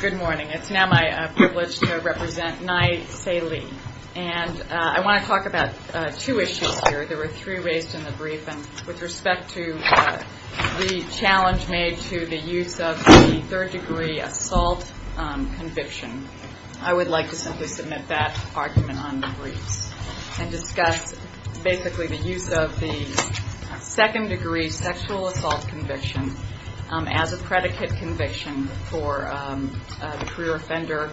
Good morning. It's now my privilege to represent Nye Saelee. And I want to talk about two issues here. There were three raised in the brief. With respect to the challenge made to the use of the third degree assault conviction, I would like to simply submit that argument on the briefs and discuss basically the use of the second degree sexual assault conviction as a predicate conviction for the career offender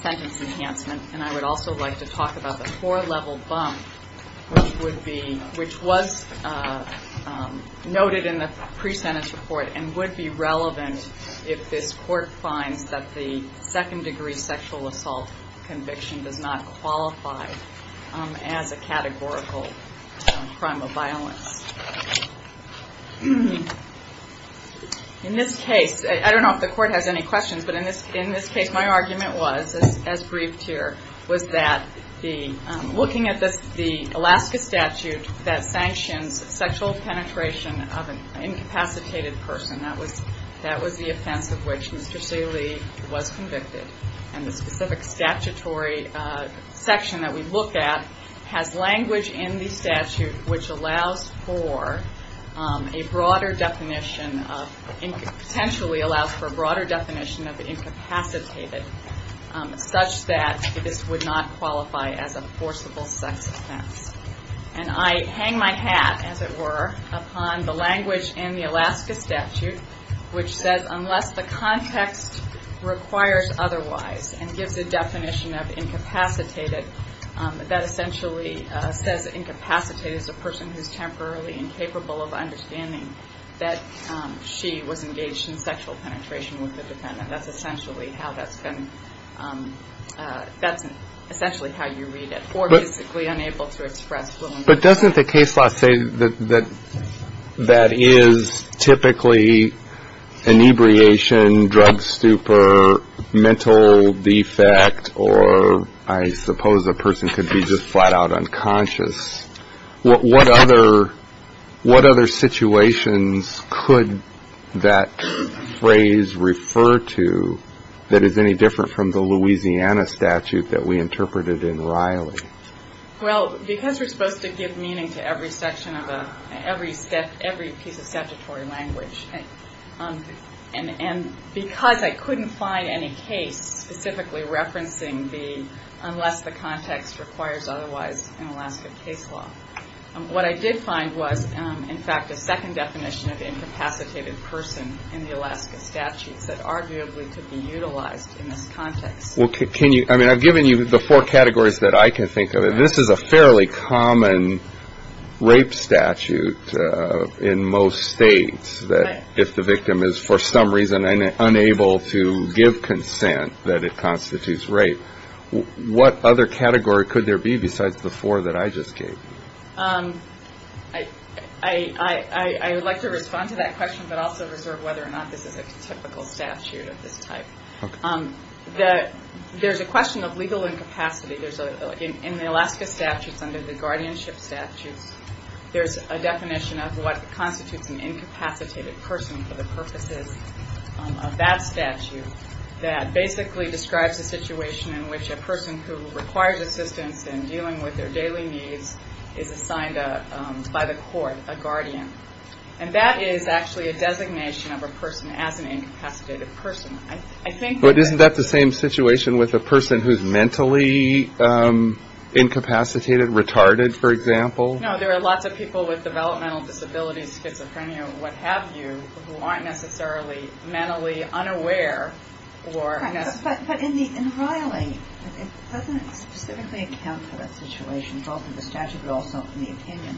sentence enhancement. And I would also like to talk about the core level bump, which was noted in the pre-sentence report and would be relevant if this court finds that the second degree sexual assault conviction does not In this case, I don't know if the court has any questions, but in this case my argument was, as briefed here, was that looking at the Alaska statute that sanctions sexual penetration of an incapacitated person, that was the offense of which Mr. Saelee was convicted. And the specific statutory section that we look at has language in the statute which allows for a broader definition, potentially allows for a broader definition of incapacitated such that this would not qualify as a forcible sex offense. And I hang my hat, as it were, upon the language in the Alaska statute which says unless the context requires otherwise and gives a definition of incapacitated, that essentially says incapacitated is a person who is temporarily incapable of understanding that she was engaged in sexual penetration with the defendant. That's essentially how that's been, that's essentially how you read it, or basically unable to express fluently. But doesn't the case law say that that is typically inebriation, drug stupor, mental defect, or I suppose a person could be just flat-out unconscious? What other situations could that phrase refer to that is any different from the Louisiana statute that we interpreted in Riley? Well, because we're supposed to give meaning to every section of a, every piece of statutory language, and because I couldn't find any case specifically referencing the unless the context requires otherwise in Alaska case law, what I did find was, in fact, a second definition of incapacitated person in the Alaska statutes that arguably could be utilized in this context. Well, can you, I mean, I've given you the four categories that I can think of, and this is a fairly common rape statute in most states, that if the victim is for some reason unable to give consent that it constitutes rape. What other category could there be besides the four that I just gave you? I would like to respond to that question, but also reserve whether or not this is a typical statute of this type. Okay. There's a question of legal incapacity. In the Alaska statutes under the guardianship statutes, there's a definition of what constitutes an incapacitated person for the purposes of that statute that basically describes a situation in which a person who requires assistance in dealing with their daily needs is assigned by the court a guardian. And that is actually a designation of a person as an incapacitated person. I think that Isn't that the same situation with a person who's mentally incapacitated, retarded, for example? No, there are lots of people with developmental disabilities, schizophrenia, what have you, who aren't necessarily mentally unaware or But in Riley, it doesn't specifically account for that situation, both in the statute but also in the opinion,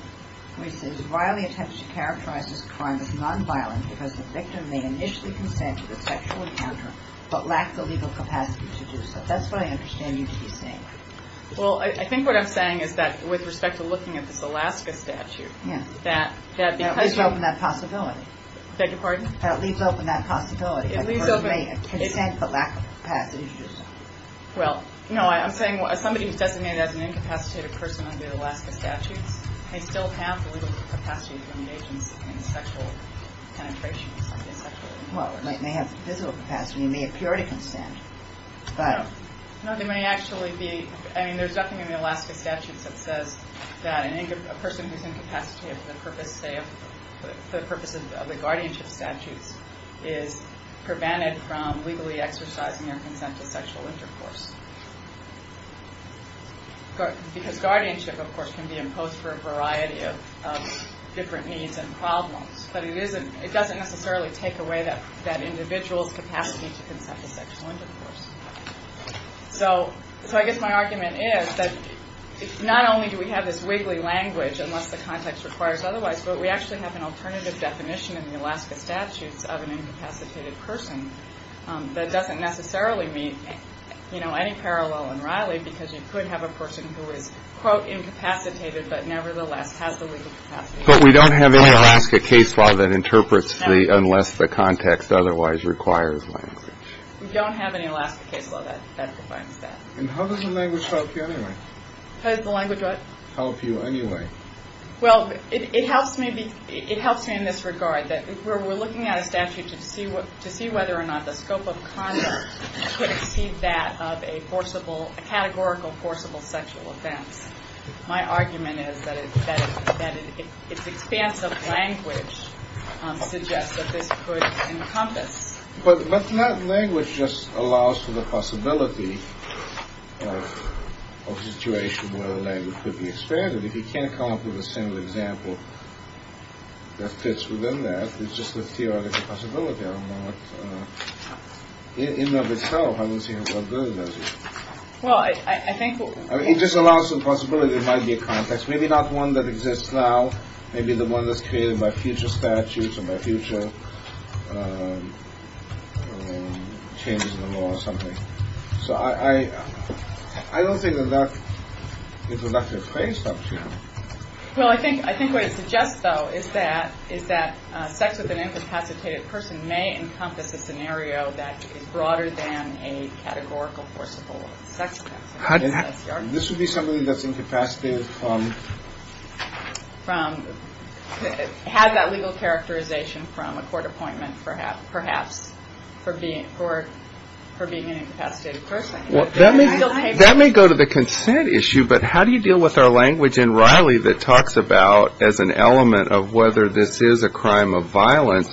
where it says Riley attempts to characterize this crime as nonviolent because the victim may initially consent to the sexual encounter, but lacks the legal capacity to do so. That's what I understand you to be saying. Well, I think what I'm saying is that with respect to looking at this Alaska statute, that That leaves open that possibility. Beg your pardon? That leaves open that possibility, that the person may consent but lack the capacity to do so. Well, no, I'm saying somebody who's designated as an incapacitated person under the Alaska statutes may still have the legal capacity to engage in sexual penetration. Well, they may have physical capacity, they may appear to consent, but No, they may actually be, I mean, there's nothing in the Alaska statutes that says that a person who's incapacitated for the purpose of the guardianship statutes is prevented from legally exercising their consent to sexual intercourse. Because guardianship, of course, can be imposed for a variety of different needs and problems. But it doesn't necessarily take away that individual's capacity to consent to sexual intercourse. So I guess my argument is that not only do we have this wiggly language, unless the context requires otherwise, but we actually have an alternative definition in the Alaska statutes of an incapacitated person that doesn't necessarily meet any parallel in Riley, because you could have a person who is, quote, incapacitated, but nevertheless has the legal capacity. But we don't have any Alaska case law that interprets unless the context otherwise requires language. We don't have any Alaska case law that defines that. And how does the language help you anyway? How does the language what? Help you anyway. Well, it helps me in this regard. We're looking at a statute to see whether or not the scope of conduct could exceed that of a categorical forcible sexual offense. My argument is that its expansive language suggests that this could encompass. But that language just allows for the possibility of a situation where the language could be summed up with a single example that fits within that. It's just a theoretical possibility. I don't know what. In and of itself, I don't see how that does it. Well, I think. It just allows some possibility. It might be a context. Maybe not one that exists now. Maybe the one that's created by future statutes or by future changes in the law or something. So I, I don't think that that is enough to face up to. Well, I think I think what it suggests, though, is that is that sex with an incapacitated person may encompass a scenario that is broader than a categorical forcible sex. This would be something that's incapacitated from. It has that legal characterization from a court appointment, perhaps, perhaps for being for being an incapacitated person. That may go to the consent issue. But how do you deal with our language in Riley that talks about as an element of whether this is a crime of violence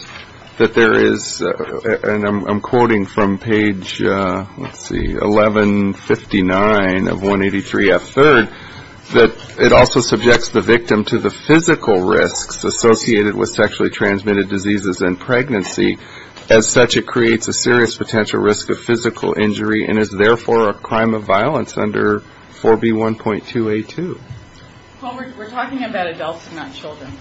that there is? I'm quoting from page 1159 of 183 F. Third, that it also subjects the victim to the physical risks associated with sexually transmitted diseases and pregnancy. As such, it creates a serious potential risk of physical injury and is therefore a crime of violence under 4B 1.2 8 2. We're talking about adults, not children.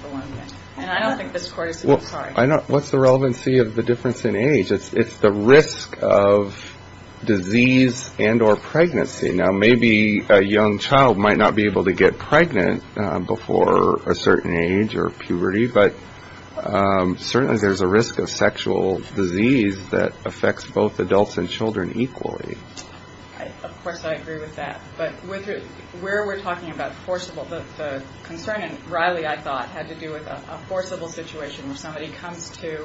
And I don't think this is what I know. What's the relevancy of the difference in age? It's the risk of disease and or pregnancy. Now, maybe a young child might not be able to get pregnant before a certain age or puberty. But certainly there's a risk of sexual disease that affects both adults and children equally. Of course, I agree with that. But where we're talking about forcible, the concern in Riley, I thought, had to do with a forcible situation where somebody comes to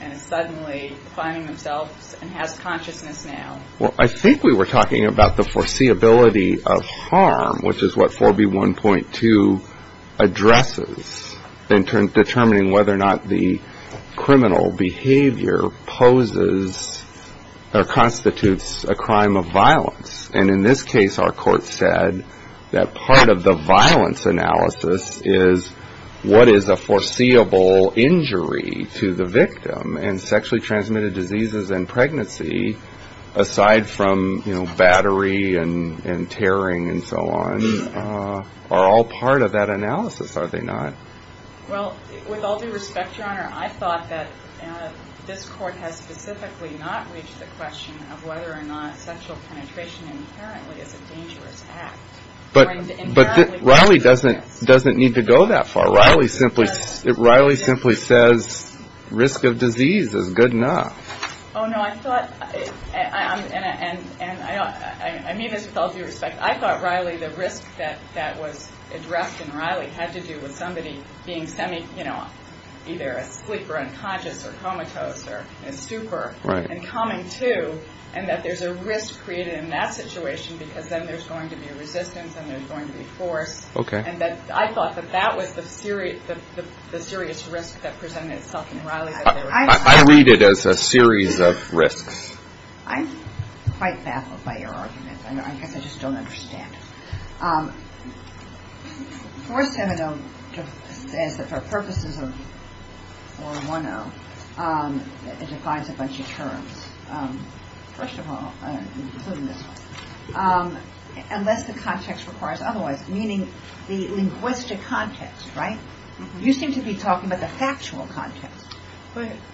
and is suddenly finding themselves and has consciousness now. Well, I think we were talking about the foreseeability of harm, which is what 4B 1.2 addresses in determining whether or not the criminal behavior poses or constitutes a crime of violence. And in this case, our court said that part of the violence analysis is what is a foreseeable injury to the victim. And sexually transmitted diseases and pregnancy, aside from battery and tearing and so on, are all part of that analysis, are they not? Well, with all due respect, Your Honor, I thought that this court has specifically not reached the question of whether or not sexual penetration inherently is a dangerous act. But Riley doesn't need to go that far. Riley simply says risk of disease is good enough. Oh, no, I thought, and I mean this with all due respect, I thought Riley, the risk that was addressed in Riley had to do with somebody being semi, you know, either asleep or unconscious or comatose or super and coming to. And that there's a risk created in that situation because then there's going to be resistance and there's going to be force. And that I thought that that was the serious risk that presented itself in Riley. I read it as a series of risks. I'm quite baffled by your argument. I guess I just don't understand. For Seminole, as for purposes of 410, it defines a bunch of terms. First of all, including this one, unless the context requires otherwise, meaning the linguistic context, right? You seem to be talking about the factual context.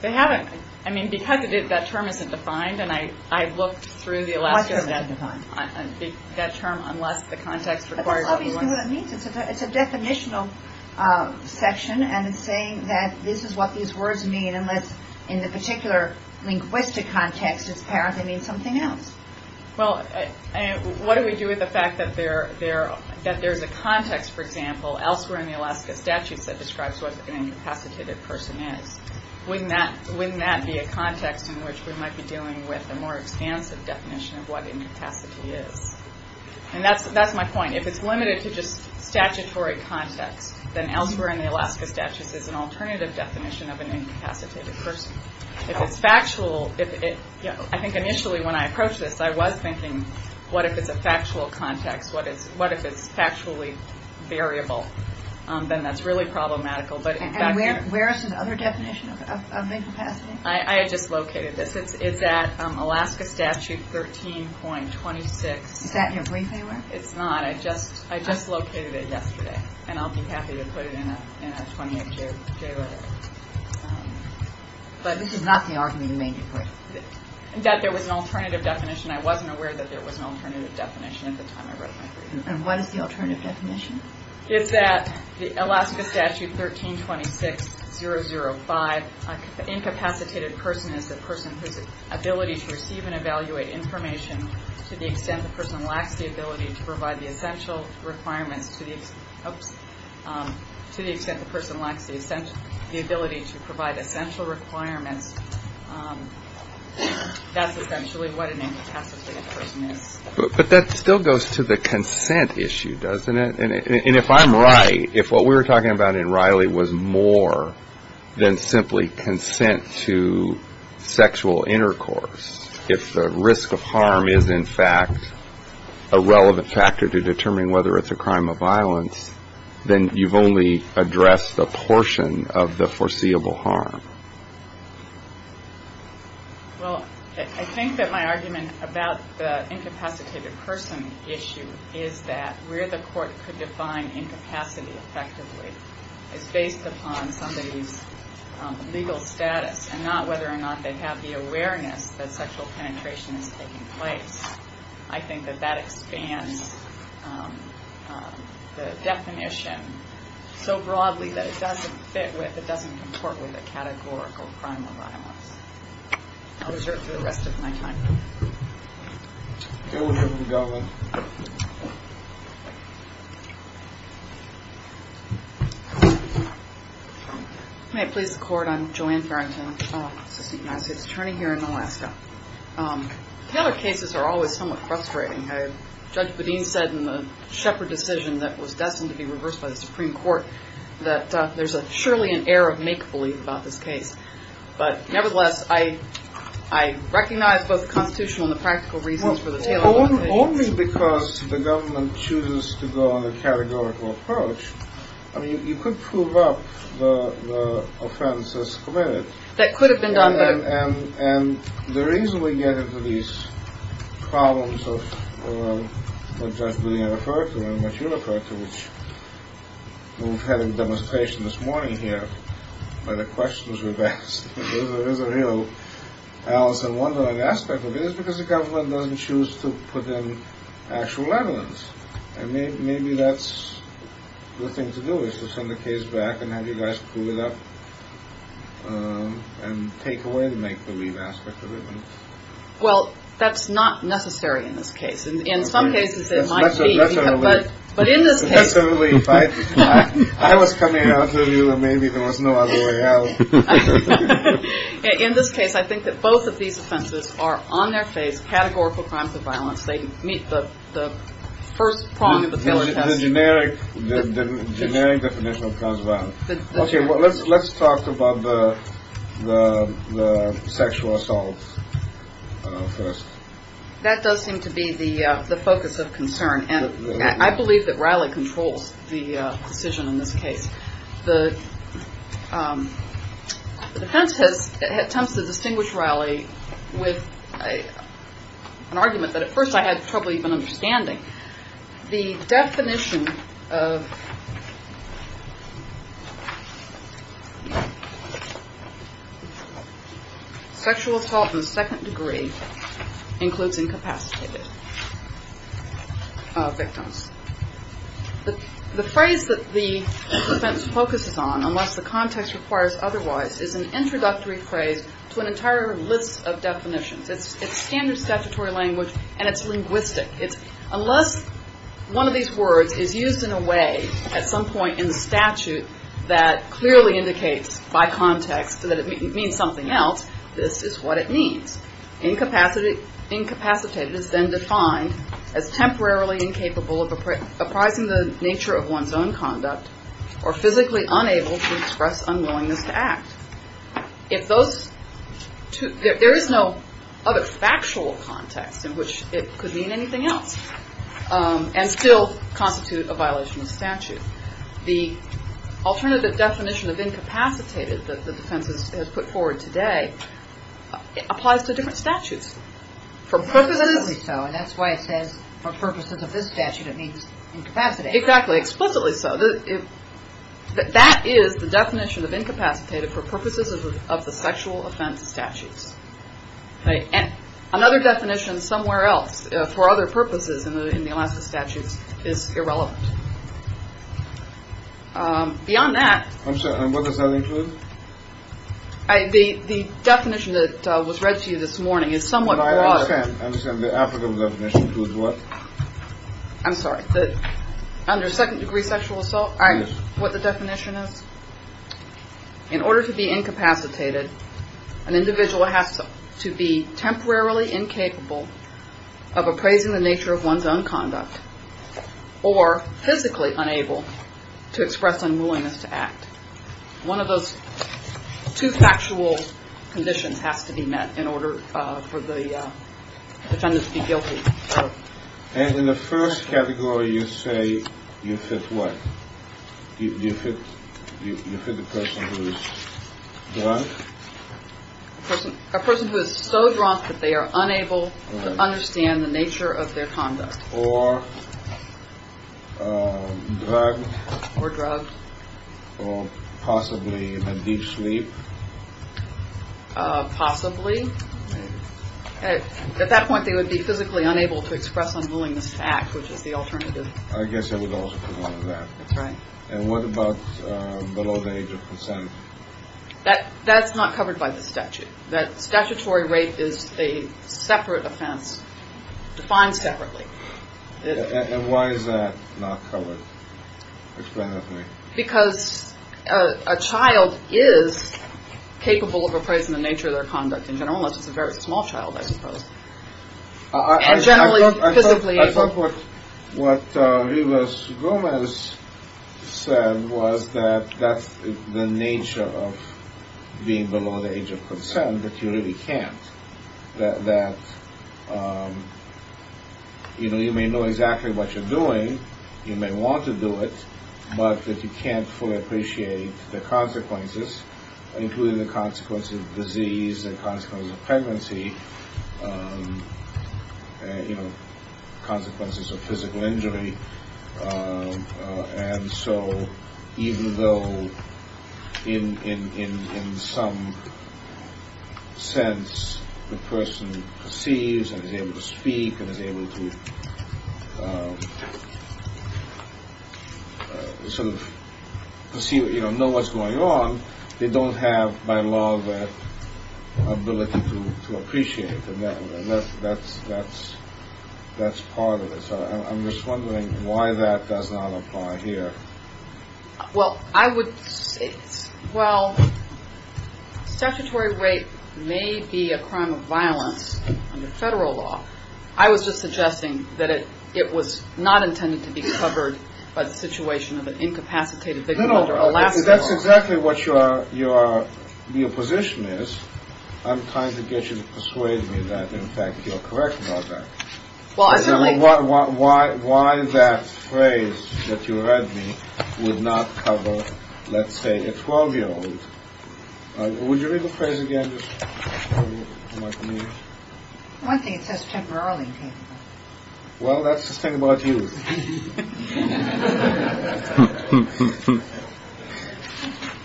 They haven't. I mean, because that term isn't defined, and I looked through the Alaska statute. That term, unless the context requires otherwise. But that's obviously what it means. It's a definitional section. And it's saying that this is what these words mean, unless in the particular linguistic context, it apparently means something else. Well, what do we do with the fact that there's a context, for example, elsewhere in the Alaska statutes that describes what an incapacitated person is? Wouldn't that be a context in which we might be dealing with a more expansive definition of what incapacity is? And that's my point. If it's limited to just statutory context, then elsewhere in the Alaska statutes is an alternative definition of an incapacitated person. It's factual. I think initially when I approached this, I was thinking, what if it's a factual context? What is what if it's factually variable? Then that's really problematical. But where is the other definition of incapacity? I just located this. It's at Alaska statute 13 point 26. Is that your briefing? It's not. I just I just located it yesterday. And I'll be happy to put it in a 28 day. But this is not the argument that there was an alternative definition. I wasn't aware that there was an alternative definition at the time. And what is the alternative definition? Is that the Alaska statute 13 26 0 0 5 incapacitated person is the person whose ability to receive and evaluate information to the extent the person lacks the ability to provide the essential requirements to the extent the person lacks the ability to provide essential requirements. That's essentially what an incapacitated person is. But that still goes to the consent issue, doesn't it? And if I'm right, if what we were talking about in Riley was more than simply consent to sexual intercourse, if the risk of harm is, in fact, a relevant factor to determine whether it's a crime of violence, then you've only addressed a portion of the foreseeable harm. Well, I think that my argument about the incapacitated person issue is that where the court could define incapacity effectively is based upon somebody's legal status and not whether or not they have the awareness that sexual penetration is taking place. I think that that expands the definition so broadly that it doesn't fit with, it doesn't comport with a categorical crime of violence. I'll reserve the rest of my time. Okay, we're good to go then. May I please the court? I'm Joanne Farrington, assistant United States attorney here in Alaska. Tailored cases are always somewhat frustrating. Judge Bedeen said in the Shepard decision that was destined to be reversed by the Supreme Court that there's surely an air of make-believe about this case. But nevertheless, I recognize both the constitutional and the practical reasons for the tailored case. Only because the government chooses to go on a categorical approach. I mean, you could prove up the offense as committed. That could have been done, though. And the reason we get into these problems of what Judge Bedeen referred to and what you referred to, which we've had in demonstration this morning here where the questions were asked, there's a real Alice in Wonderland aspect of it, is because the government doesn't choose to put in actual evidence. And maybe that's the thing to do, is to send the case back and have you guys prove it up and take away the make-believe aspect of it. Well, that's not necessary in this case. In some cases it might be. But in this case, I think that both of these offenses are on their face, categorical crimes of violence. They meet the first prong of the generic definition of trans violence. Let's let's talk about the sexual assault. First, that does seem to be the focus of concern. And I believe that Riley controls the decision in this case. The defense has attempts to distinguish Riley with an argument that at first I had trouble even understanding the definition of. Sexual assault in the second degree includes incapacitated victims. The phrase that the defense focuses on, unless the context requires otherwise, is an introductory phrase to an entire list of definitions. It's standard statutory language and it's linguistic. Unless one of these words is used in a way at some point in the statute that clearly indicates by context that it means something else, this is what it means. Incapacitated is then defined as temporarily incapable of apprising the nature of one's own conduct or physically unable to express unwillingness to act. If those two, there is no other factual context in which it could mean anything else and still constitute a violation of statute. The alternative definition of incapacitated that the defense has put forward today applies to different statutes for purposes. And that's why it says for purposes of this statute, it means incapacitated. Exactly. Explicitly so. That is the definition of incapacitated for purposes of the sexual offense statutes. And another definition somewhere else for other purposes in the Alaska statutes is irrelevant. Beyond that, I'm sure. And what does that include? The definition that was read to you this morning is somewhat. I understand. What? I'm sorry. Under second degree sexual assault. I know what the definition is in order to be incapacitated. An individual has to be temporarily incapable of appraising the nature of one's own conduct or physically unable to express unwillingness to act. One of those two factual conditions has to be met in order for the defendants to be guilty. And in the first category, you say you fit what? You fit the person who is drunk? A person who is so drunk that they are unable to understand the nature of their conduct. Or drug or drug or possibly a deep sleep. Possibly. At that point, they would be physically unable to express unwillingness to act, which is the alternative. I guess it would also be one of that. Right. And what about below the age of percent that that's not covered by the statute? That statutory rape is a separate offense defined separately. And why is that not covered? Explain that to me. Because a child is capable of appraising the nature of their conduct in general, unless it's a very small child, I suppose. Generally, I thought what was said was that that's the nature of being below the age of percent that you really can't that. You know, you may know exactly what you're doing. You may want to do it, but you can't fully appreciate the consequences, including the consequences of disease, the consequences of pregnancy, you know, consequences of physical injury. And so even though in some sense, the person sees and is able to speak and is able to. So to see, you know, know what's going on, they don't have by law that ability to appreciate it. And that's that's that's that's part of this. I'm just wondering why that does not apply here. Well, I would say, well, statutory rape may be a crime of violence under federal law. I was just suggesting that it it was not intended to be covered by the situation of an incapacitated victim. No, no. That's exactly what you are. You are. Your position is I'm trying to get you to persuade me that, in fact, you're correct about that. Well, I certainly want. Why is that phrase that you read me would not cover, let's say, a 12 year old. Would you read the phrase again? One thing it says temporarily. Well, that's the thing about you.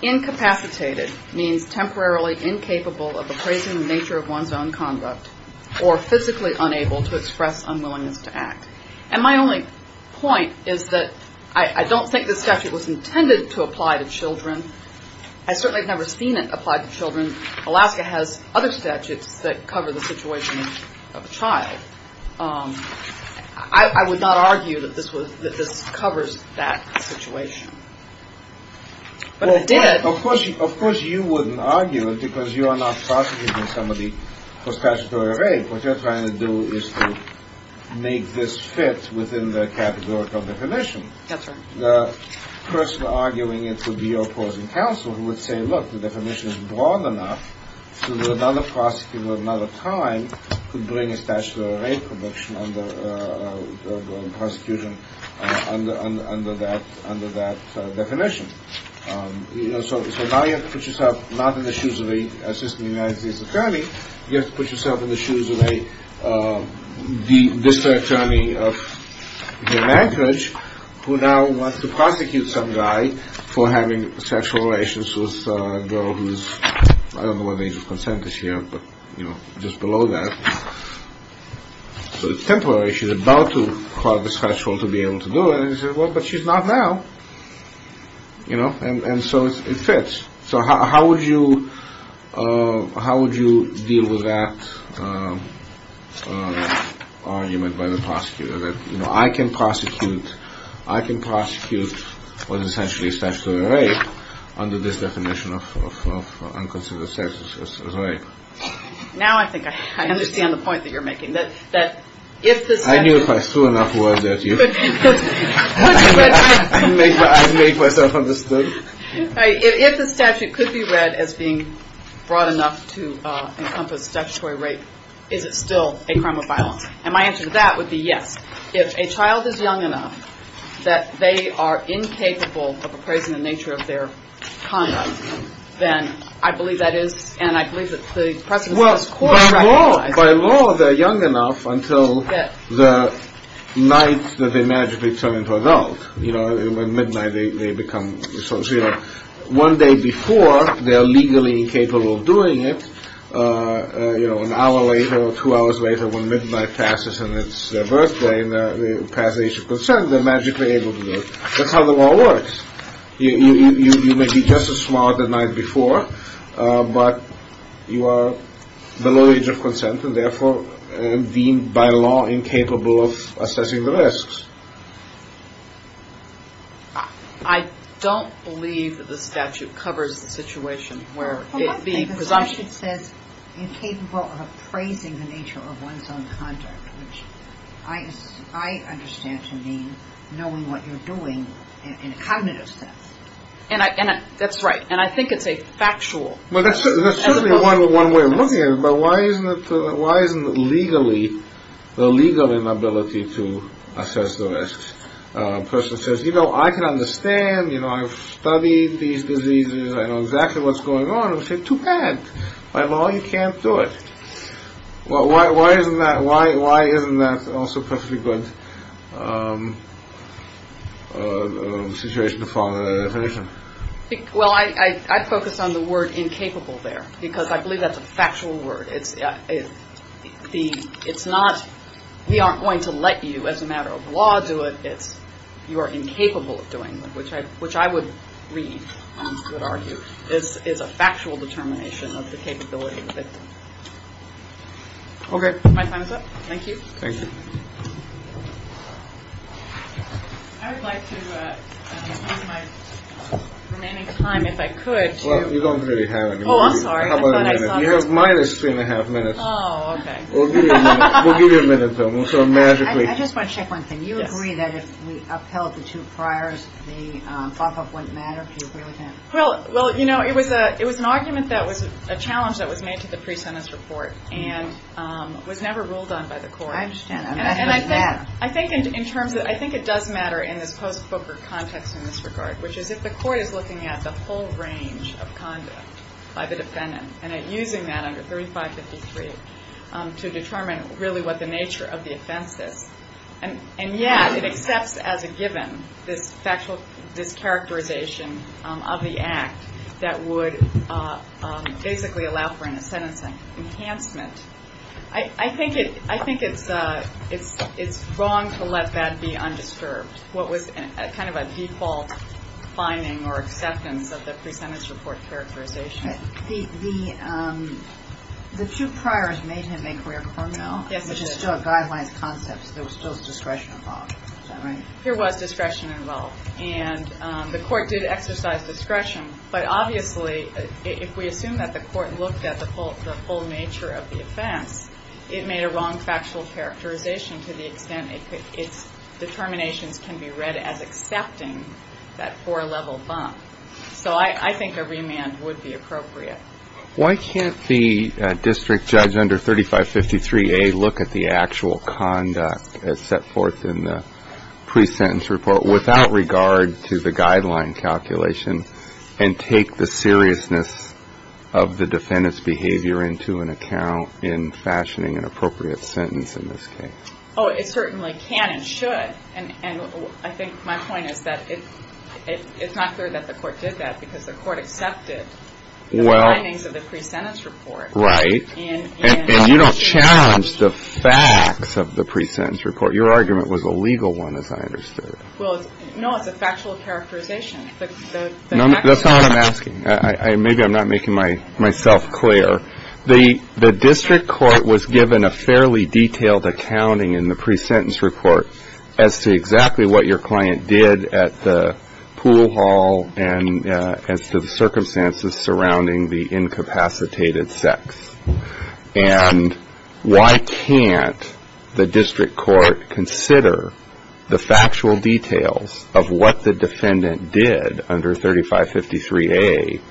Incapacitated means temporarily incapable of appraising the nature of one's own conduct or physically unable to express unwillingness to act. And my only point is that I don't think the statute was intended to apply to children. I certainly have never seen it applied to children. Alaska has other statutes that cover the situation of a child. I would not argue that this was that this covers that situation. Of course, of course, you wouldn't argue it because you are not talking to somebody for statutory rape. What you're trying to do is to make this fit within the categorical definition. That's right. The person arguing it would be opposing counsel who would say, look, the definition is broad enough to another prosecutor. Another time could bring a statute of rape conviction under prosecution under under that under that definition. So now you have to put yourself not in the shoes of a assistant United States attorney. You have to put yourself in the shoes of a district attorney of the language who now wants to prosecute some guy for having sexual relations with a girl who is. I don't know what the age of consent is here, but, you know, just below that. So it's temporary. She's about to call the special to be able to do it. Well, but she's not now, you know, and so it fits. So how would you how would you deal with that argument by the prosecutor? I can prosecute. I can prosecute for the century. Now, I think I understand the point that you're making that that if I knew if I threw enough words at you, I make myself understood. If the statute could be read as being broad enough to encompass statutory rape, is it still a crime of violence? And my answer to that would be yes. If a child is young enough that they are incapable of appraising the nature of their conduct, then I believe that is. And I believe that the president was quite right. By law, they're young enough until the night that they magically turn into adult. You know, when midnight they become social. One day before they are legally incapable of doing it. You know, an hour later or two hours later, when midnight passes and it's their birthday and they pass age of consent, they're magically able to do it. That's how the law works. You may be just as smart the night before, but you are below age of consent and therefore deemed by law incapable of assessing the risks. I don't believe that the statute covers the situation where it being presumption says incapable of appraising the nature of one's own conduct, which I understand to mean knowing what you're doing in a cognitive sense. And that's right. And I think it's a factual. Well, that's certainly one way of looking at it. But why isn't it? Why isn't it legally the legal inability to assess the risks? A person says, you know, I can understand, you know, I've studied these diseases. I know exactly what's going on. I would say too bad. By law, you can't do it. Well, why isn't that? Why? Why isn't that also perfectly good situation to follow that definition? Well, I focus on the word incapable there because I believe that's a factual word. It's the it's not we aren't going to let you as a matter of law do it. It's you are incapable of doing that, which I which I would read. This is a factual determination of the capability. OK, my time is up. Thank you. Thank you. I would like to have my remaining time if I could. Well, you don't really have it. Oh, I'm sorry. You have minus three and a half minutes. We'll give you a minute. So magically, I just want to check one thing. You agree that if we upheld the two priors, the pop up wouldn't matter. Well, well, you know, it was a it was an argument that was a challenge that was made to the pre-sentence report and was never ruled on by the court. I understand. And I think I think in terms of I think it does matter in this post poker context in this regard, which is if the court is looking at the whole range of conduct by the defendant and using that under thirty five fifty three to determine really what the nature of the offense is. And and yet it accepts as a given this factual discharacterization of the act that would basically allow for a sentence enhancement. I think it I think it's it's it's wrong to let that be undisturbed. What was kind of a default finding or acceptance of the pre-sentence report characterization? The the two priors made him a career. Yes. It is still a guidelines concept. There was still discretion involved. There was discretion involved and the court did exercise discretion. But obviously, if we assume that the court looked at the whole the whole nature of the offense, it made a wrong factual characterization to the extent its determinations can be read as accepting that four level bump. So I think a remand would be appropriate. Why can't the district judge under thirty five fifty three a look at the actual conduct set forth in the pre-sentence report without regard to the guideline calculation? And take the seriousness of the defendant's behavior into an account in fashioning an appropriate sentence in this case. Oh, it certainly can and should. And I think my point is that it it's not clear that the court did that because the court accepted. Well, the findings of the pre-sentence report. Right. And you don't challenge the facts of the pre-sentence report. Your argument was a legal one, as I understood it. No, it's a factual characterization. That's not what I'm asking. Maybe I'm not making my myself clear. The the district court was given a fairly detailed accounting in the pre-sentence report as to exactly what your client did at the pool hall. And as to the circumstances surrounding the incapacitated sex. And why can't the district court consider the factual details of what the defendant did under thirty five fifty three a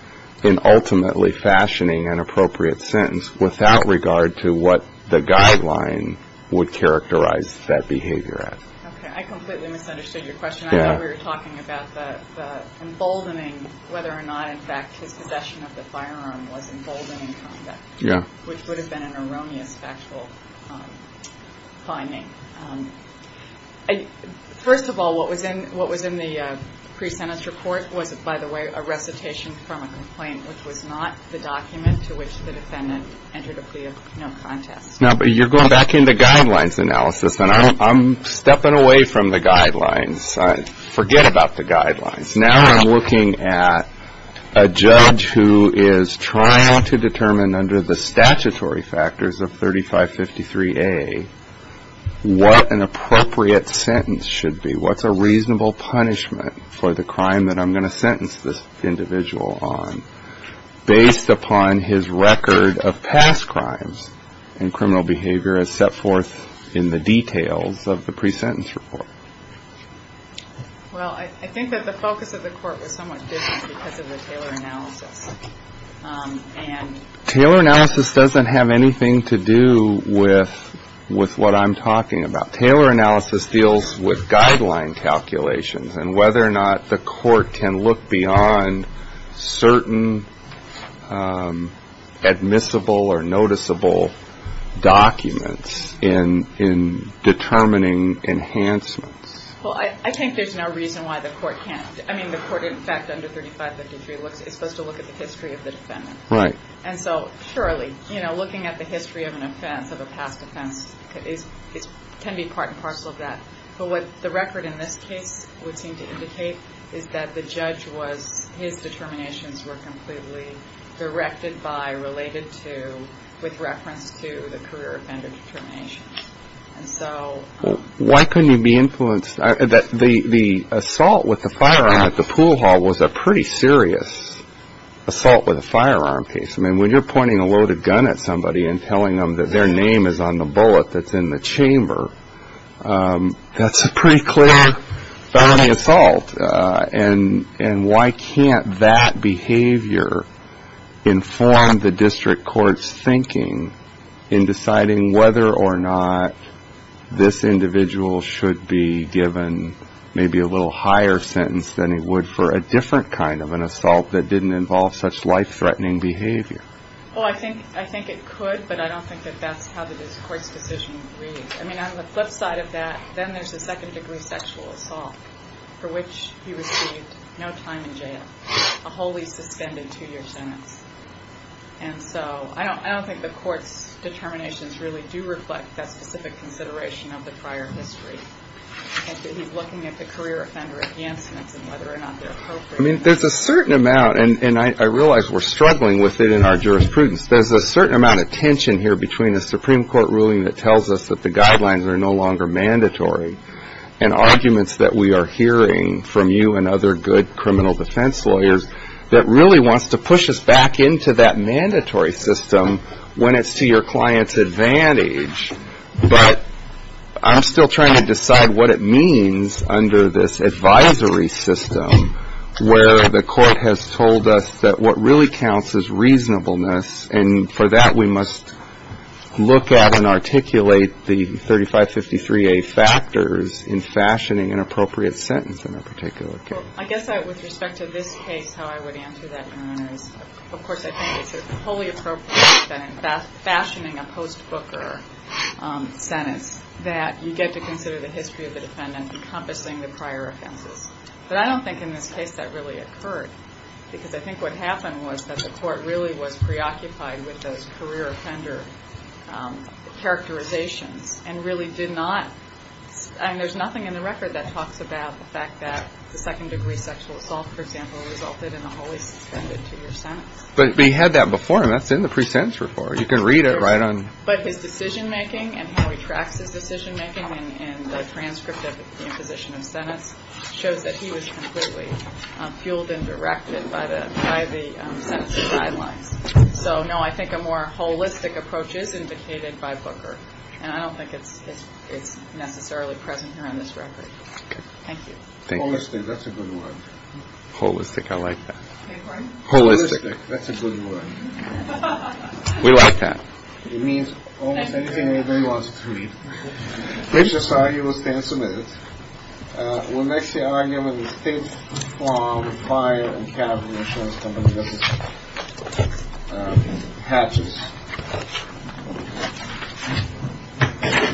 in ultimately fashioning an appropriate sentence without regard to what the guideline would characterize that behavior? I completely misunderstood your question. We were talking about the emboldening, whether or not, in fact, his possession of the firearm was emboldened. Yeah. Which would have been an erroneous factual finding. First of all, what was in what was in the pre-sentence report was, by the way, a recitation from a complaint, which was not the document to which the defendant entered a plea of no contest. Now, but you're going back into guidelines analysis and I'm stepping away from the guidelines. Forget about the guidelines. Now I'm looking at a judge who is trying to determine under the statutory factors of thirty five fifty three a. What an appropriate sentence should be. What's a reasonable punishment for the crime that I'm going to sentence this individual on based upon his record of past crimes and criminal behavior as set forth in the details of the pre-sentence report? Well, I think that the focus of the court was somewhat different because of the Taylor analysis and Taylor analysis doesn't have anything to do with with what I'm talking about. Taylor analysis deals with guideline calculations and whether or not the court can look beyond certain admissible or noticeable documents in in determining enhancements. Well, I think there's no reason why the court can't. I mean, the court, in fact, under thirty five fifty three is supposed to look at the history of the defendant. Right. And so surely, you know, looking at the history of an offense of a past offense is can be part and parcel of that. But what the record in this case would seem to indicate is that the judge was his determinations were completely directed by related to with reference to the career offender determination. So why couldn't you be influenced that the assault with the firearm at the pool hall was a pretty serious assault with a firearm case? I mean, when you're pointing a loaded gun at somebody and telling them that their name is on the bullet that's in the chamber, that's a pretty clear felony assault. And why can't that behavior inform the district court's thinking in deciding whether or not this individual should be given maybe a little higher sentence than he would for a different kind of an assault that didn't involve such life threatening behavior? Well, I think I think it could, but I don't think that that's how the court's decision reads. I mean, on the flip side of that, then there's a second degree sexual assault for which he received no time in jail, a wholly suspended two year sentence. And so I don't I don't think the court's determinations really do reflect that specific consideration of the prior history. I mean, there's a certain amount and I realize we're struggling with it in our jurisprudence. There's a certain amount of tension here between the Supreme Court ruling that tells us that the guidelines are no longer mandatory and arguments that we are hearing from you and other good criminal defense lawyers that really wants to push us back into that mandatory system when it's to your client's advantage. But I'm still trying to decide what it means under this advisory system where the court has told us that what really counts is reasonableness. And for that, we must look at and articulate the thirty five fifty three factors in fashioning an appropriate sentence in a particular. With respect to this case, how I would answer that is, of course, I think it's wholly appropriate that in fashioning a post booker sentence that you get to consider the history of the defendant encompassing the prior offenses. But I don't think in this case that really occurred, because I think what happened was that the court really was preoccupied with those career offender characterizations and really did not. And there's nothing in the record that talks about the fact that the second degree sexual assault, for example, resulted in a wholly suspended two year sentence. But we had that before. And that's in the pre-sentence report. You can read it right on. But his decision making and how he tracks his decision making and the transcript of the imposition of sentence shows that he was completely fueled and directed by the by the sentencing guidelines. So, no, I think a more holistic approach is indicated by Booker. And I don't think it's it's necessarily present here on this record. Thank you. Thank you. That's a good one. Holistic. I like that. Holistic. That's a good one. We like that. It means almost anything you want to read. This is how you will stand submitted. Well, next year, I am in the state farm fire and have insurance companies. Hatch's.